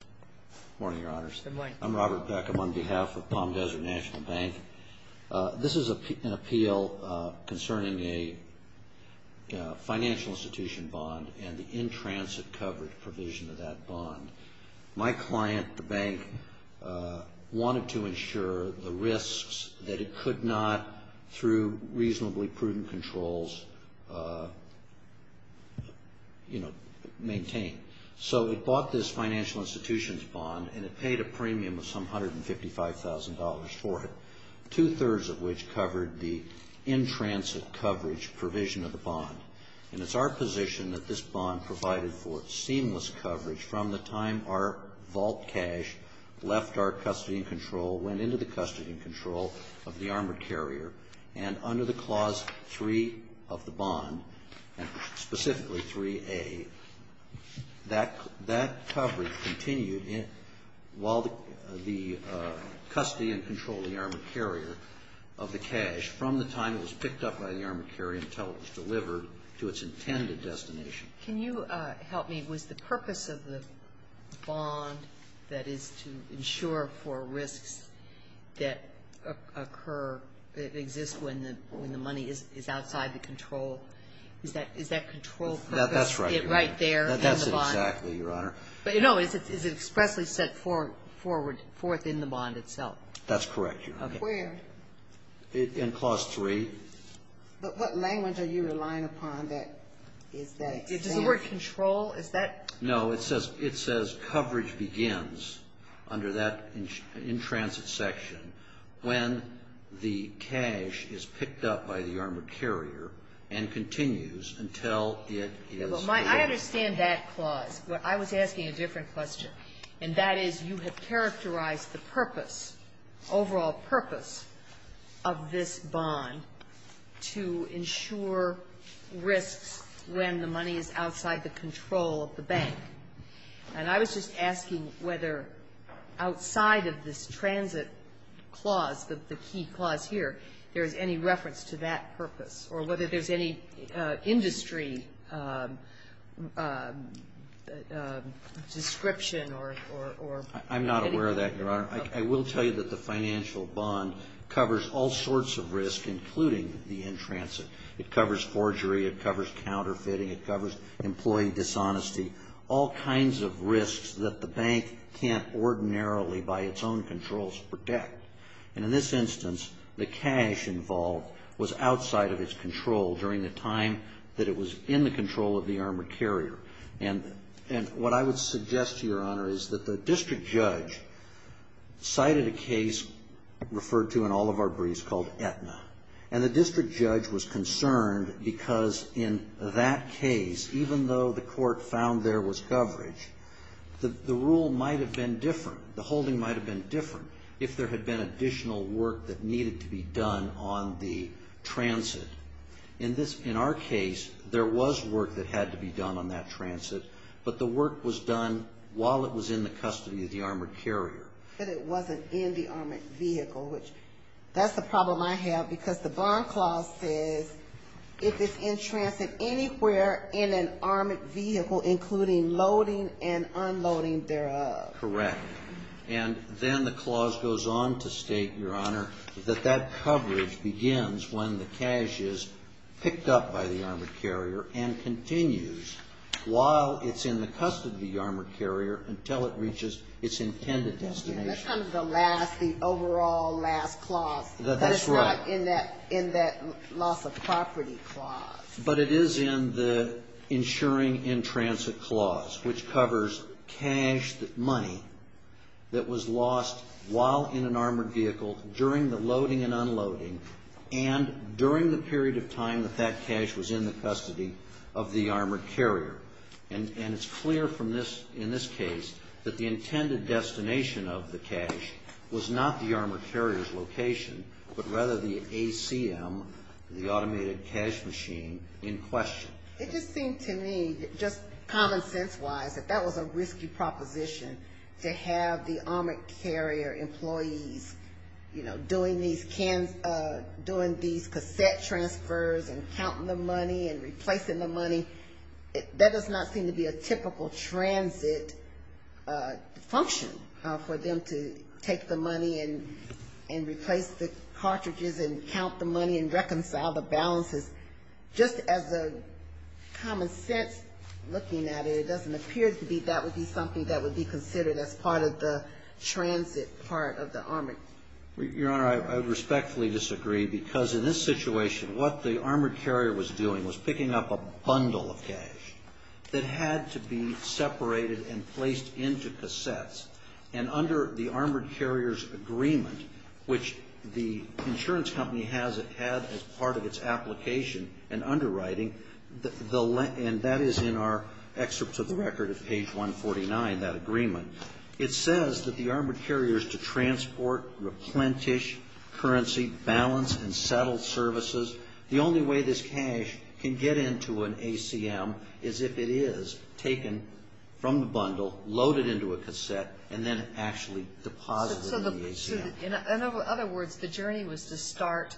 Good morning, Your Honors. Good morning. I'm Robert Beckham on behalf of Palm Desert National Bank. This is an appeal concerning a financial institution bond and the in-transit coverage provision of that bond. My client, the bank, wanted to ensure the risks that it could not, through reasonably prudent controls, you know, maintain. So it bought this financial institution's bond and it paid a premium of some $155,000 for it, two-thirds of which covered the in-transit coverage provision of the bond. And it's our position that this bond provided for seamless coverage from the time our vault cash left our custody and control, went into the custody and control of the armored carrier, and under the Clause 3 of the bond, specifically 3A, that coverage continued while the custody and control of the armored carrier of the cash from the time it was picked up by the armored carrier until it was delivered to its intended destination. Can you help me? Was the purpose of the bond, that is, to ensure for risks that occur, that exist when the money is outside the control, is that control purpose right there in the bond? That's right. That's exactly, Your Honor. But, you know, is it expressly set forth in the bond itself? That's correct, Your Honor. Where? In Clause 3. But what language are you relying upon that is that exactly? Is the word control, is that? No. It says coverage begins under that in-transit section when the cash is picked up by the armored carrier and continues until it is delivered. Well, I understand that clause, but I was asking a different question, and that is you have characterized the purpose, overall purpose of this bond to ensure risks when the money is outside the control of the bank. And I was just asking whether outside of this transit clause, the key clause here, there is any reference to that purpose, or whether there's any industry description or? I'm not aware of that, Your Honor. I will tell you that the financial bond covers all sorts of risks, including the in-transit. It covers forgery, it covers counterfeiting, it covers employee dishonesty, all kinds of risks that the bank can't ordinarily, by its own controls, protect. And in this instance, the cash involved was outside of its control during the time that it was in the control of the armored carrier. And what I would suggest to Your Honor is that the district judge cited a case referred to in all of our briefs called Aetna. And the district judge was concerned because in that case, even though the court found there was coverage, the rule might have been different. The holding might have been different if there had been additional work that needed to be done on the transit. In our case, there was work that had to be done on that transit, but the work was done while it was in the custody of the armored carrier. But it wasn't in the armored vehicle, which, that's the problem I have because the bond clause says if it's in transit anywhere in an armored vehicle, including loading and unloading thereof. And then the clause goes on to state, Your Honor, that that coverage begins when the cash is picked up by the armored carrier and continues while it's in the custody of the armored carrier until it reaches its intended destination. That's kind of the last, the overall last clause. That's right. But it's not in that loss of property clause. But it is in the insuring in transit clause, which covers cash money that was lost while in an armored vehicle, during the loading and unloading, and during the period of time that that cash was in the custody of the armored carrier. And it's clear from this, in this case, that the intended destination of the cash was not the armored carrier's location, but rather the ACM, the automated cash machine, in question. It just seemed to me, just common sense wise, that that was a risky proposition to have the armored carrier employees, you know, doing these cassette transfers and counting the money and replacing the money. That does not seem to be a typical transit function for them to take the money and replace the cartridges and count the money and reconcile the balances. Just as a common sense looking at it, it doesn't appear to me that would be something that would be part of the transit part of the armor. Your Honor, I respectfully disagree, because in this situation, what the armored carrier was doing was picking up a bundle of cash that had to be separated and placed into cassettes. And under the armored carrier's agreement, which the insurance company has it had as part of its application and underwriting, and that is in our excerpts of the record at page 149, that agreement, it says that the armored carrier is to transport, replenish currency, balance, and settle services. The only way this cash can get into an ACM is if it is taken from the bundle, loaded into a cassette, and then actually deposited in the ACM. In other words, the journey was to start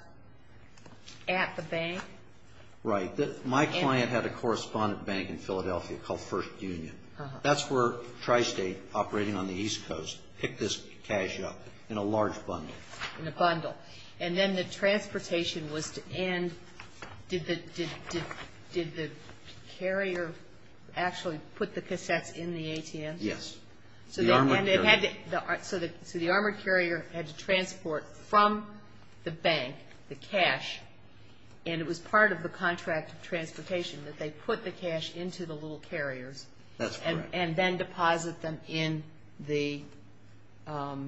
at the bank? Right. My client had a correspondent bank in Philadelphia called First Union. That's where Tristate, operating on the East Coast, picked this cash up, in a large bundle. In a bundle. And then the transportation was to end, did the carrier actually put the cassettes in the ACM? Yes. The armored carrier. So the armored carrier had to transport from the bank the cash, and it was part of the contract of transportation that they put the cash into the little carriers. That's correct. And then deposit them in the ATM.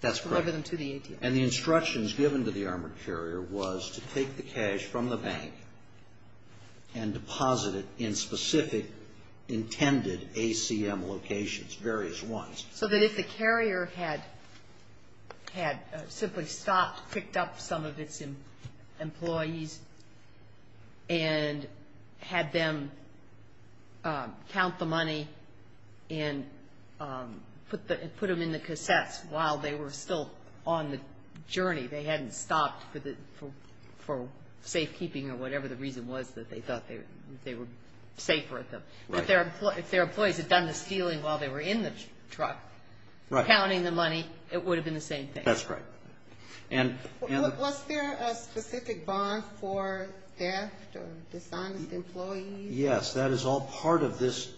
That's correct. Deliver them to the ATM. And the instructions given to the armored carrier was to take the cash from the bank and deposit it in specific intended ACM locations, various ones. So that if the carrier had simply stopped, picked up some of its employees, and had them count the money and put them in the cassettes while they were still on the journey, they were safe. If their employees had done the stealing while they were in the truck, counting the money, it would have been the same thing. That's right. Was there a specific bond for theft or dishonest employees? Yes. That is all part of this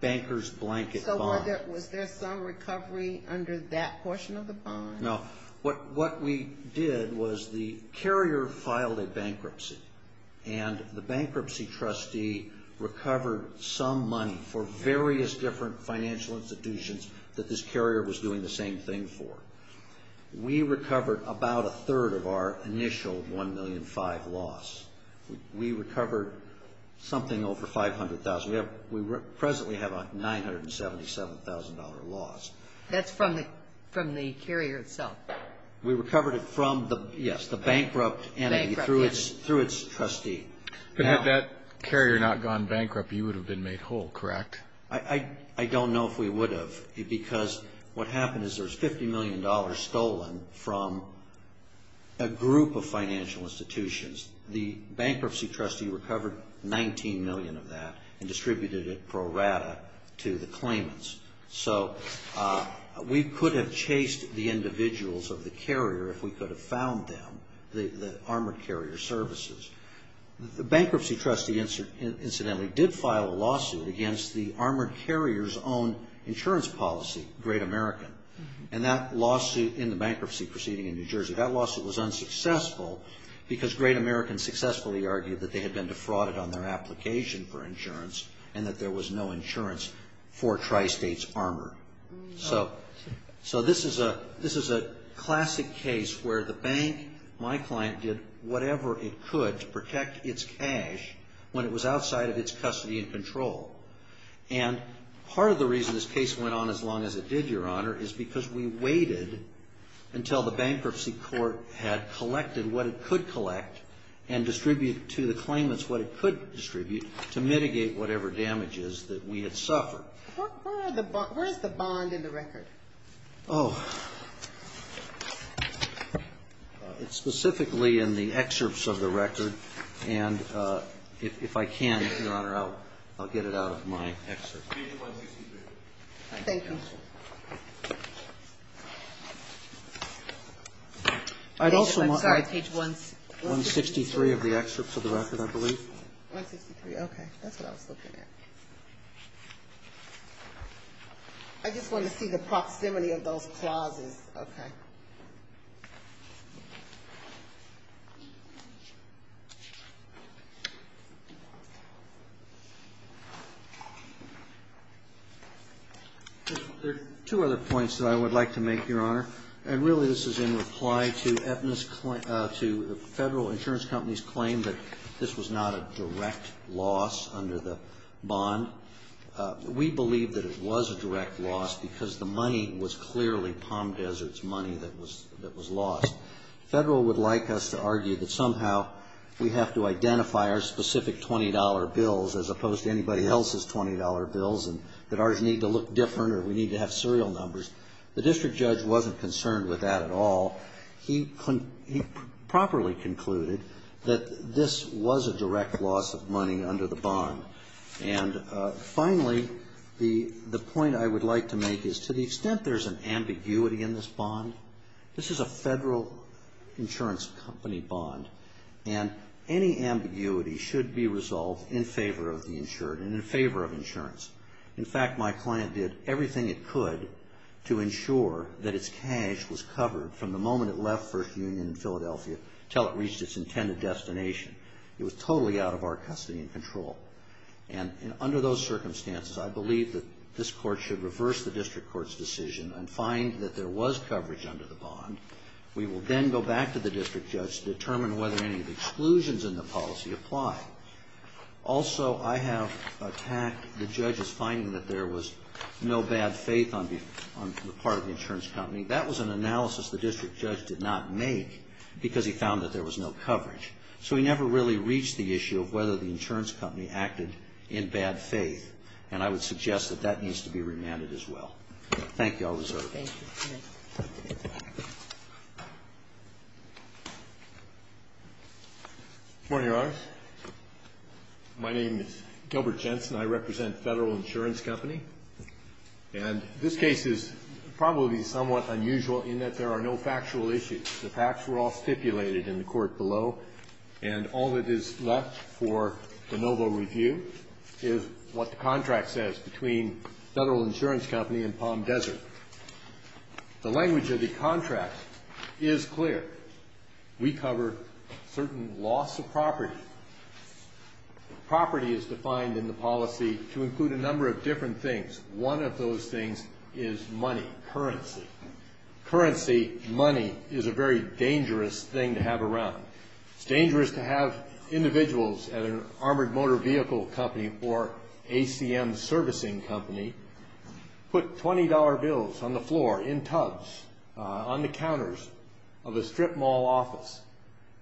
banker's blanket bond. Was there some recovery under that portion of the bond? No. What we did was the carrier filed a bankruptcy, and the bankruptcy trustee recovered some money for various different financial institutions that this carrier was doing the same thing for. We recovered about a third of our initial $1.5 million loss. We recovered something over $500,000. We presently have a $977,000 loss. That's from the carrier itself? We recovered it from the bankrupt entity through its trustee. Had that carrier not gone bankrupt, you would have been made whole, correct? I don't know if we would have, because what happened is there was $50 million stolen from a group of financial institutions. The bankruptcy trustee recovered $19 million of that and distributed it pro rata to the claimants. We could have chased the individuals of the carrier if we could have found them, the armored carrier services. The bankruptcy trustee, incidentally, did file a lawsuit against the armored carrier's own insurance policy, Great American. That lawsuit in the bankruptcy proceeding in New Jersey, that lawsuit was unsuccessful because Great American successfully argued that they had been defrauded on their application for insurance and that there was no insurance for Tri-States Armor. So this is a classic case where the bank, my client, did whatever it could to protect its cash when it was outside of its custody and control. Part of the reason this case went on as long as it did, Your Honor, is because we waited until the bankruptcy court had collected what it could collect and distributed to the claimants what it could distribute to mitigate whatever damages that we had suffered. Where is the bond in the record? Oh. It's specifically in the excerpts of the record and if I can, Your Honor, I'll get it out of my excerpt. Page 163. Thank you. Page 163 of the excerpts of the record, I believe. 163, okay. That's what I was looking at. I just wanted to see the proximity of those clauses. Okay. There are two other points that I would like to make, Your Honor, and really this is in reply to the Federal Insurance Company's claim that this was not a direct loss under the bond. We believe that it was a direct loss because the money was clearly Palm Desert's money that was lost. The Federal would like us to argue that somehow we have to identify our specific $20 bills as opposed to anybody else's $20 bills and that ours need to look different or we need to have serial numbers. The district judge wasn't concerned with that at all. He properly concluded that this was a direct loss of money under the bond. And finally, the point I would like to make is to the extent there's an ambiguity in this bond, this is a Federal Insurance Company bond and any ambiguity should be resolved in favor of the insured and in favor of insurance. In fact, my client did everything it could to ensure that its cash was covered from the moment it left First Union in Philadelphia until it reached its intended destination. It was totally out of our custody and control. And under those circumstances, I believe that this Court should reverse the district court's decision and find that there was coverage under the bond. We will then go back to the district judge to determine whether any exclusions in the policy apply. Also, I have attacked the judge's finding that there was no bad faith on the part of the insurance company. That was an analysis the district judge did not make because he found that there was no coverage. So he never really reached the issue of whether the insurance company acted in bad faith. And I would suggest that that needs to be remanded as well. Thank you. I'll reserve. Thank you. Good morning, Your Honors. My name is Gilbert Jensen. I represent Federal Insurance Company. And this case is probably somewhat unusual in that there are no factual issues. The facts were all stipulated in the court below. And all that is left for the novel review is what the contract says between Federal Insurance Company and Palm Desert. The language of the contract is clear. We cover certain loss of property. Property is defined in the policy to include a number of different things. One of those things is money, currency. Currency, money, is a very dangerous thing to have around. It's dangerous to have individuals at an armored motor vehicle company or ACM servicing company put $20 bills on the floor, in tubs, on the counters of a strip mall office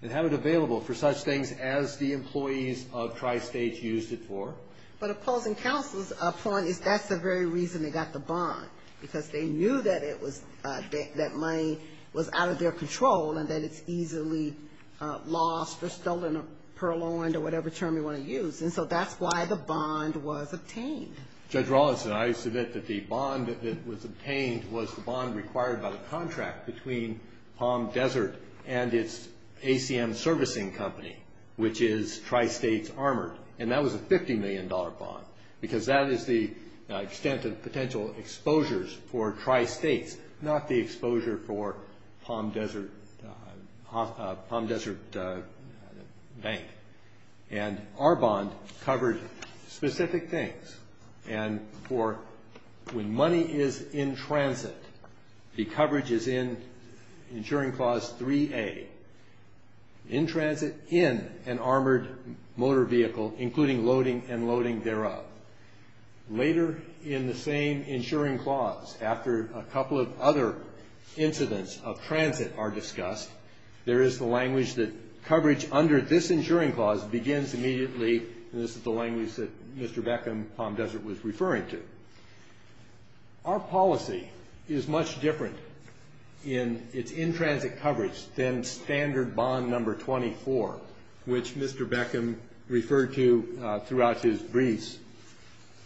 and have it available for such things as the employees of Tri-State used it for. But opposing counsel's point is that's the very reason they got the bond. Because they knew that it was, that money was out of their control and that it's easily lost or stolen or purloined or whatever term you want to use. And so that's why the bond was obtained. Judge Rawlinson, I submit that the bond that was obtained was the bond required by the contract between Palm Desert and its ACM servicing company, which is Tri-States Armored. And that was a $50 million bond. Because that is the extent of potential exposures for Tri-States, not the exposure for Palm Desert Bank. And our bond covered specific things. And for when money is in transit, the coverage is in Insuring Clause 3A. In transit, in an armored motor vehicle, including loading and loading thereof. Later in the same Insuring Clause, after a couple of other incidents of transit are discussed, there is the language that coverage under this Insuring Clause begins immediately. And this is the language that Mr. Beckham, Palm Desert, was referring to. Our policy is much different in its in-transit coverage than Standard Bond No. 24, which Mr. Beckham referred to throughout his briefs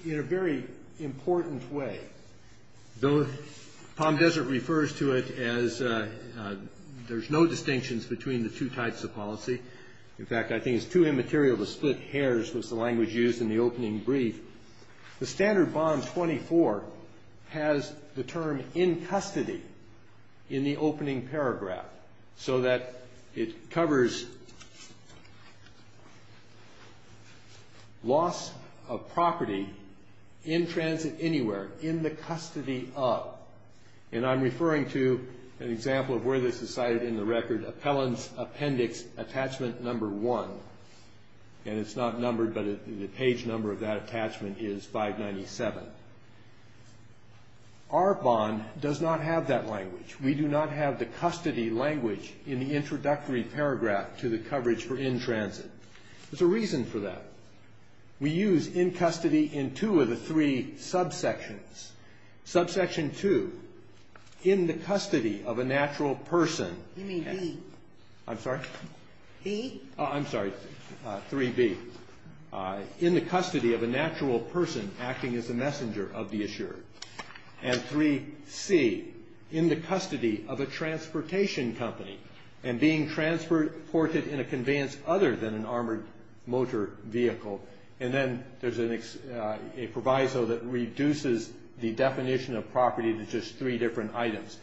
in a very important way. Though Palm Desert refers to it as, there's no distinctions between the two types of policy. In fact, I think it's too immaterial to split hairs with the language used in the opening brief. The Standard Bond No. 24 has the term in custody in the opening paragraph. So that it covers loss of property in transit anywhere, in the custody of. And I'm referring to an example of where this is cited in the record, Appellant's Appendix Attachment No. 1. And it's not numbered, but the page number of that attachment is 597. Our bond does not have that language. We do not have the custody language in the introductory paragraph to the coverage for in-transit. There's a reason for that. We use in custody in two of the three subsections. Subsection 2, in the custody of a natural person. Give me B. I'm sorry? E? Oh, I'm sorry. 3B. In the custody of a natural person acting as a messenger of the assured. And 3C. In the custody of a transportation company. And being transported in a conveyance other than an armored motor vehicle. And then there's a proviso that reduces the definition of property to just three different items.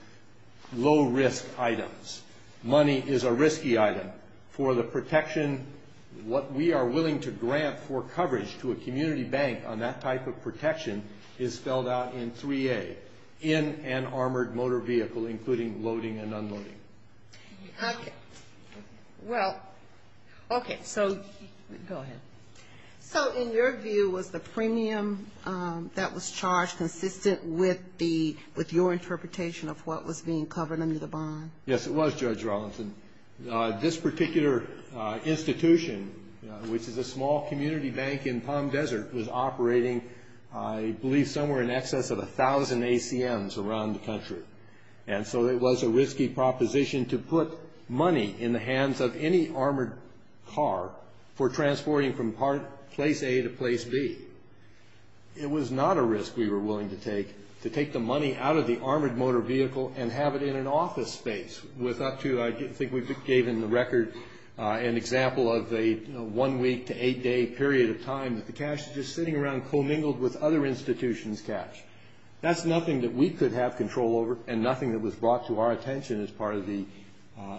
Low risk items. Money is a risky item. For the protection, what we are willing to grant for coverage to a community bank on that type of protection is spelled out in 3A. In an armored motor vehicle, including loading and unloading. Well, okay. So, go ahead. So, in your view, was the premium that was charged consistent with your interpretation of what was being covered under the bond? Yes, it was, Judge Rawlinson. This particular institution, which is a small community bank in Palm Desert, was operating, I believe, somewhere in excess of 1,000 ACMs around the country. And so it was a risky proposition to put money in the hands of any armored car for transporting from place A to place B. It was not a risk we were willing to take to take the money out of the armored motor vehicle and have it in an office space with up to, I think we gave in the record, an example of a one-week to eight-day period of time that the cash was just sitting around commingled with other institutions' cash. That's nothing that we could have control over and nothing that was brought to our attention as part of the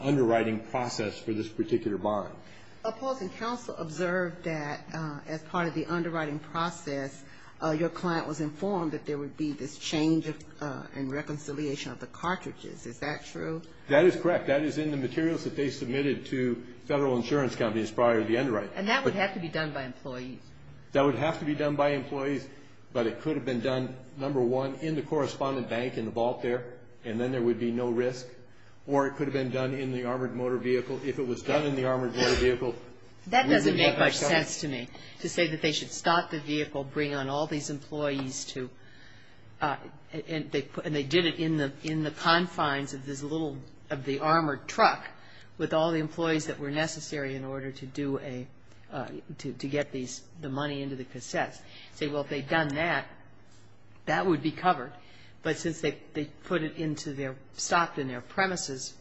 underwriting process for this particular bond. Opposing counsel observed that as part of the underwriting process, your client was informed that there would be this change in reconciliation of the cartridges. Is that true? That is correct. That is in the materials that they submitted to federal insurance companies prior to the underwriting. And that would have to be done by employees? That would have to be done by employees, but it could have been done, number one, in the correspondent bank in the vault there, and then there would be no risk. Or it could have been done in the armored motor vehicle. If it was done in the armored motor vehicle... That doesn't make much sense to me, to say that they should stop the vehicle, bring on all these employees to... And they did it in the confines of this little... of the armored truck with all the employees that were necessary in order to do a... to get the money into the cassettes. Say, well, if they'd done that, that would be covered. But since they put it into their... stopped in their premises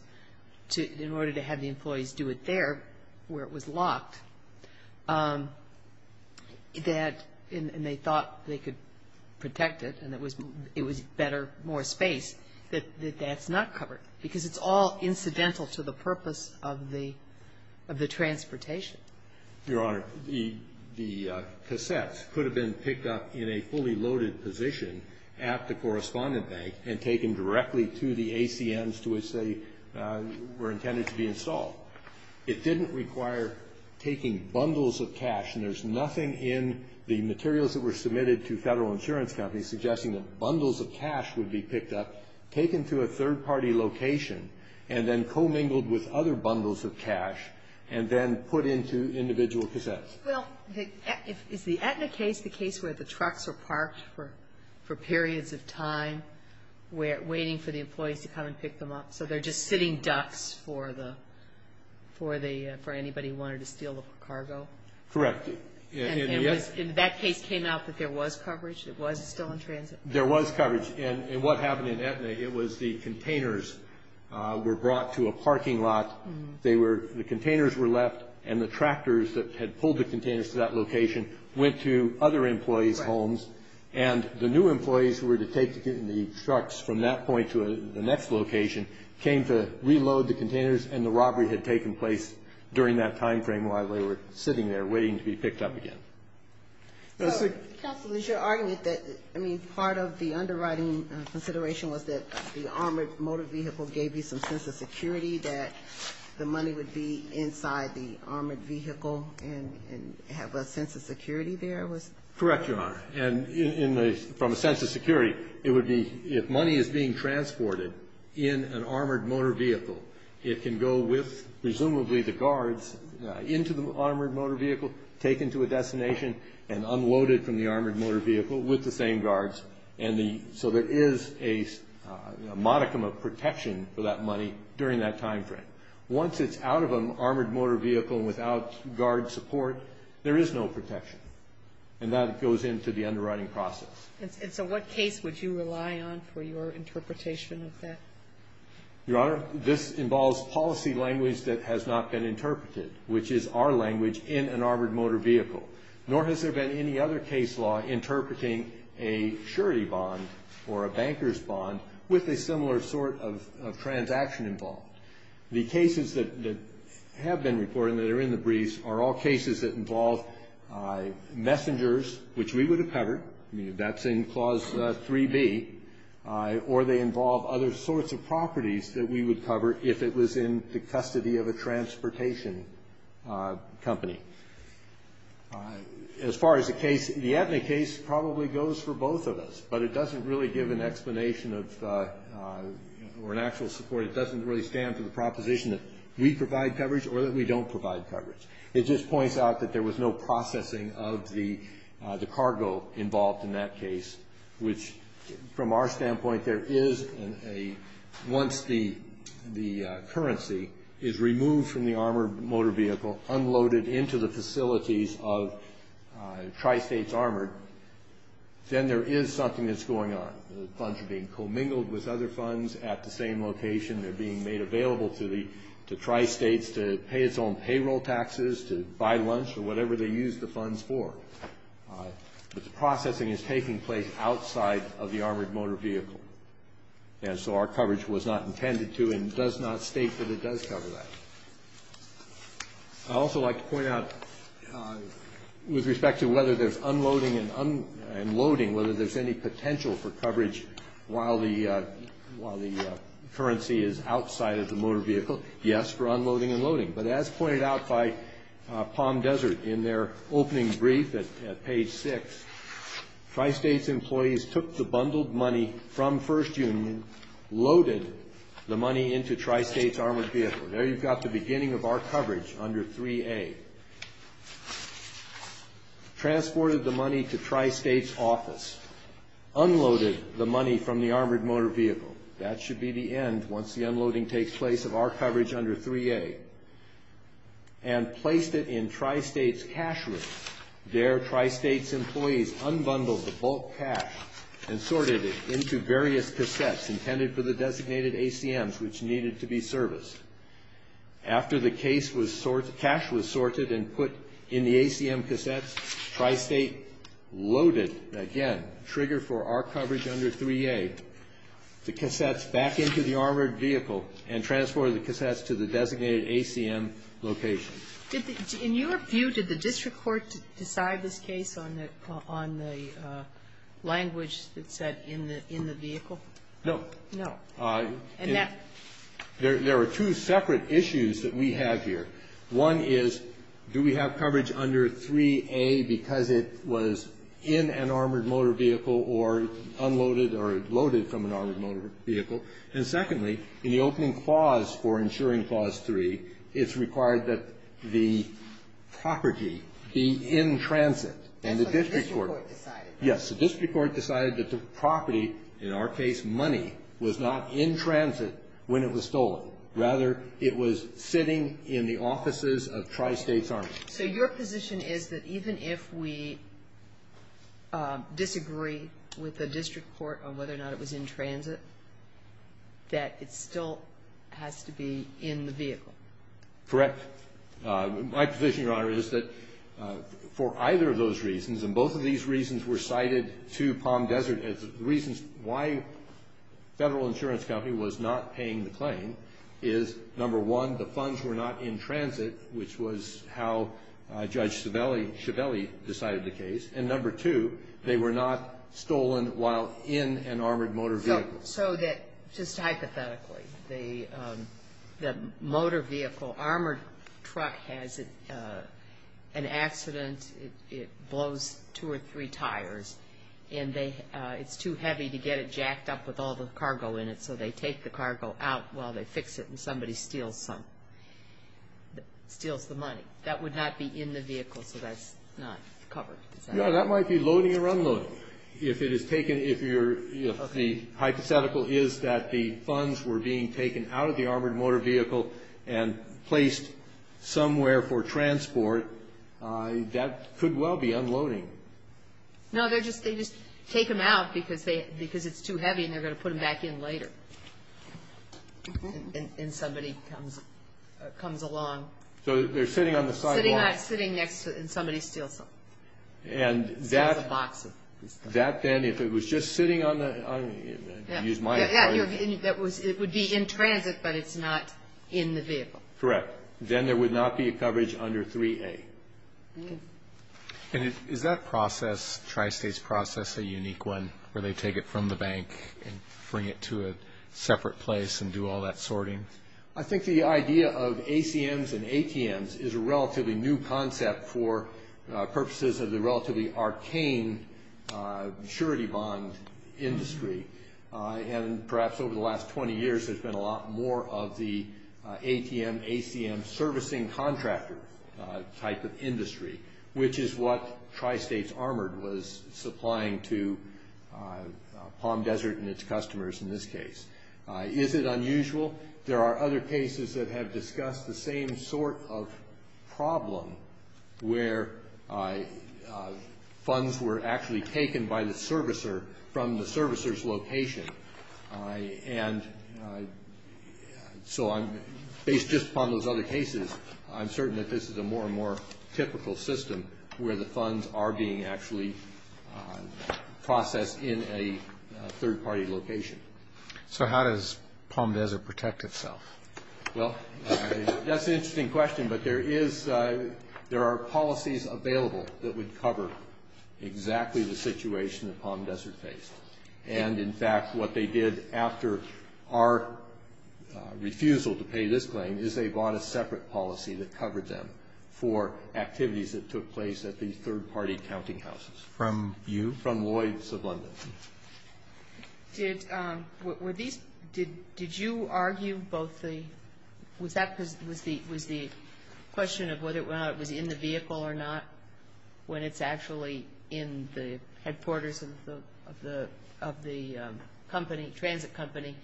in order to have the employees do it there, where it was locked, that... and they thought they could protect it and it was better, more space, that that's not covered. Because it's all incidental to the purpose of the... of the transportation. Your Honor, the... the cassettes could have been picked up in a fully loaded position at the correspondent bank and taken directly to the ACMs to which they were intended to be installed. It didn't require taking them directly to the ACMs. You're speaking bundles of cash, and there's nothing in the materials that were submitted to federal insurance companies suggesting that bundles of cash would be picked up, taken to a third-party location, and then commingled with other bundles of cash, and then put into individual cassettes. Well, is the Aetna case the case where the trucks are parked for... for periods of time, waiting for the employees to come and pick them up, so they're just sitting ducks for the... for the... for anybody who wanted to steal the cargo? Correct. In that case came out that there was coverage? It was still in transit? There was coverage, and what happened in Aetna, it was the containers were brought to a parking lot. They were... the containers were left and the tractors that had pulled the containers to that location went to other employees' homes, and the new employees who were to take the trucks from that point to the next location came to reload the containers, and the robbery had taken place during that time frame while they were sitting there waiting to be picked up again. Counsel, is your argument that, I mean, part of the underwriting consideration was that the armored motor vehicle gave you some sense of security that the money would be inside the armored vehicle and have a sense of security there? Correct, Your Honor. And in the... from a sense of security, it would be if money is being transported in an armored motor vehicle, it can go with, presumably, the guards into the armored motor vehicle, taken to a destination and unloaded from the armored motor vehicle with the same guards and the... so there is a modicum of protection for that money during that time frame. Once it's out of an armored motor vehicle without guard support, there is no protection. And that goes into the underwriting process. And so what case would you rely on for your interpretation of that? Your Honor, this involves policy language that has not been interpreted, which is our language in an armored motor vehicle. Nor has there been any other case law interpreting a surety bond or a banker's bond with a similar sort of transaction involved. The cases that have been reported that are in the briefs are all cases that involve messengers, which we would have covered. I mean, that's in Clause 3B, or they involve other sorts of properties that we would cover if it was in the custody of a transportation company. As far as the case, the Aetna case probably goes for both of us, but it doesn't really give an explanation of... or an actual support. It doesn't really stand for the proposition that we provide coverage or that we don't provide coverage. It just points out that there was no processing of the case, which, from our standpoint, there is once the currency is removed from the armored motor vehicle, unloaded into the facilities of Tri-States Armored, then there is something that's going on. The funds are being commingled with other funds at the same location. They're being made available to Tri-States to pay its own payroll taxes, to buy lunch, or whatever they use the funds for. But the processing is taking place outside of the armored motor vehicle. And so our coverage was not intended to, and does not state that it does cover that. I'd also like to point out, with respect to whether there's unloading and loading, whether there's any potential for coverage while the currency is outside of the motor vehicle, yes, for unloading and loading. But as pointed out by Palm Desert in their opening brief at page 6, Tri-States employees took the bundled money from First Union, loaded the money into Tri-States Armored Vehicle. There you've got the beginning of our coverage under 3A. Transported the money to Tri-States office. Unloaded the money from the armored motor vehicle. That should be the end once the unloading takes place of our coverage under 3A. And placed it in Tri-States cash room. There Tri-States employees unbundled the bulk cash and sorted it into various cassettes intended for the designated ACMs which needed to be serviced. After the cash was sorted and put in the ACM cassettes, Tri-State loaded, again, trigger for our coverage under 3A, the cassettes back into the armored vehicle and transported the cassettes to the designated ACM location. In your view, did the district court decide this case on the language that said in the vehicle? No. No. And that? There are two separate issues that we have here. One is, do we have coverage under 3A because it was in an armored motor vehicle or unloaded or loaded from an armored motor vehicle? And secondly, in the opening clause for ensuring Clause 3, it's required that the property be in transit. That's what the district court decided. Yes. The district court decided that the property, in our case money, was not in transit when it was stolen. Rather, it was sitting in the offices of Tri-States Army. So your position is that even if we disagree with the district court on whether or not it was in transit, that it still has to be in the vehicle? Correct. My position, Your Honor, is that for either of those reasons, and both of these reasons were cited to Palm Desert as reasons why Federal Insurance Company was not paying the claim, is number one, the funds were not in transit, which was how Judge Schiavelli decided the case, and number two, they were not stolen while in an armored motor vehicle. So that, just hypothetically, the motor vehicle, armored truck has an accident, it blows two or three tires, and it's too heavy to get it jacked up with all the cargo in it, so they take the cargo out while they fix it and somebody steals some, steals the money. That would not be in the vehicle, so that's not covered. Your Honor, that might be loading or unloading. If it is taken, if the hypothetical is that the funds were being taken out of the armored motor vehicle and placed somewhere for transport, that could well be unloading. No, they just take them out because it's too heavy and they're going to put them back in later. And somebody comes along. So they're sitting on the sidewalk. They're sitting next to it and somebody steals them. That then, if it was just sitting on the it would be in transit, but it's not in the vehicle. Correct. Then there would not be a coverage under 3A. And is that process, Tri-States process, a unique one, where they take it from the bank and bring it to a separate place and do all that sorting? I think the idea of ACMs and ATMs is a relatively new concept for purposes of the relatively arcane maturity bond industry. And perhaps over the last 20 years there's been a lot more of the ATM, ACM servicing contractor type of industry, which is what Tri-States Armored was supplying to Palm Desert and its customers in this case. Is it unusual? There are other cases where we've discussed the same sort of problem where funds were actually taken by the servicer from the servicer's location. And so based just upon those other cases I'm certain that this is a more and more typical system where the funds are being actually processed in a third party location. So how does Palm Desert protect itself? Well, that's an interesting question, but there are policies available that would cover exactly the situation that Palm Desert faced. And in fact what they did after our refusal to pay this claim is they bought a separate policy that covered them for activities that took place at these third party counting houses. From you? From Lloyds of London. Did you argue both the question of whether or not it was in the vehicle or not when it's actually in the headquarters of the company, transit company,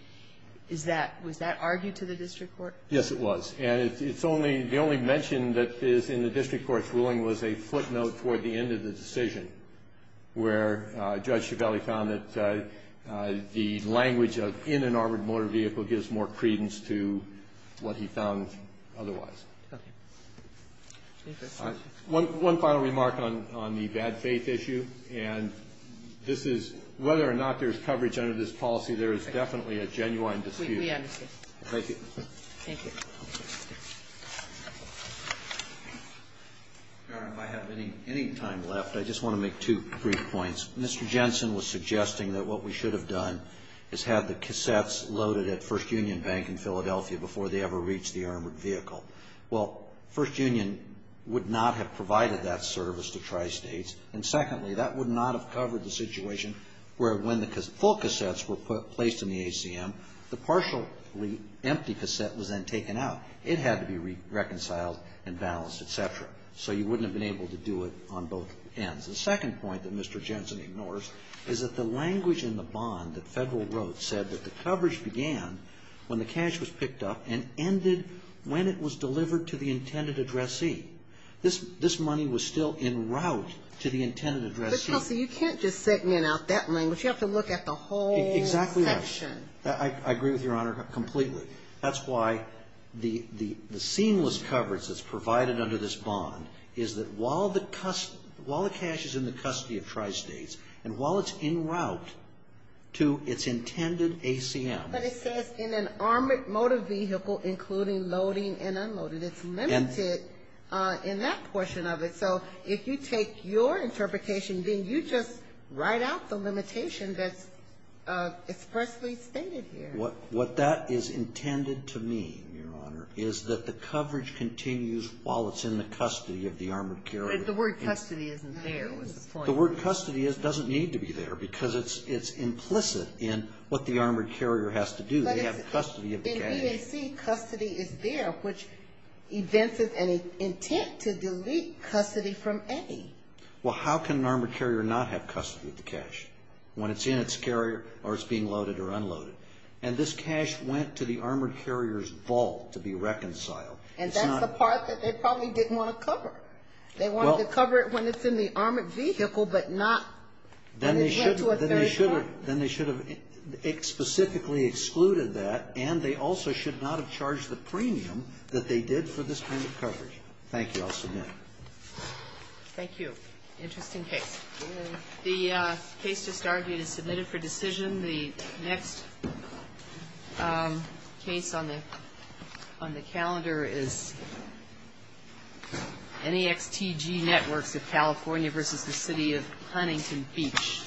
was that argued to the district court? Yes, it was. And the only mention that is in the district court's ruling was a footnote toward the end of the decision where Judge Chiavelli found that the language of in an armored motor vehicle gives more credence to what he found otherwise. One final remark on the bad faith issue, and this is whether or not there's coverage under this policy there is definitely a genuine dispute. We understand. Thank you. Thank you. Your Honor, if I have any time left, I just want to make two brief points. Mr. Jensen was suggesting that what we should have done is had the cassettes loaded at First Union Bank in Philadelphia before they ever reached the armored vehicle. Well, First Union would not have provided that service to Tri-States. And secondly, that would not have covered the situation where when the full cassettes were placed in the ACM, the partially empty cassette was then taken out. It had to be reconciled and balanced, et cetera. So you wouldn't have been able to do it on both ends. The second point that Mr. Jensen ignores is that the language in the bond that Federal wrote said that the coverage began when the cash was picked up and ended when it was delivered to the intended addressee. This money was still in route to the intended addressee. But, Kelsey, you can't just segment out that language. You have to look at the whole section. I agree with Your Honor completely. That's why the seamless coverage that's provided under this bond is that while the cash is in the custody of Tri-States and while it's in route to its intended ACM. But it says in an armored motor vehicle, including loading and unloading, it's limited in that portion of it. So if you take your interpretation, being you just write out the limitation that's expressly stated here. What that is intended to mean, Your Honor, is that the coverage continues while it's in the custody of the armored carrier. The word custody isn't there was the point. The word custody doesn't need to be there because it's implicit in what the armored carrier has to do. They have custody of the cash. In BAC, custody is there, which evinces an intent to delete custody from any. Well, how can an armored carrier not have custody of the cash when it's in its carrier or it's being loaded or unloaded? And this cash went to the armored carrier's vault to be reconciled. And that's the part that they probably didn't want to cover. They wanted to cover it when it's in the armored vehicle, but not when it went to a third party. Then they should have specifically excluded that and they also should not have charged the premium that they did for this kind of coverage. Thank you. I'll submit. Thank you. Interesting case. The case just argued is submitted for decision. The next case on the calendar is NEXTG Networks of California v. The City of Huntington Beach.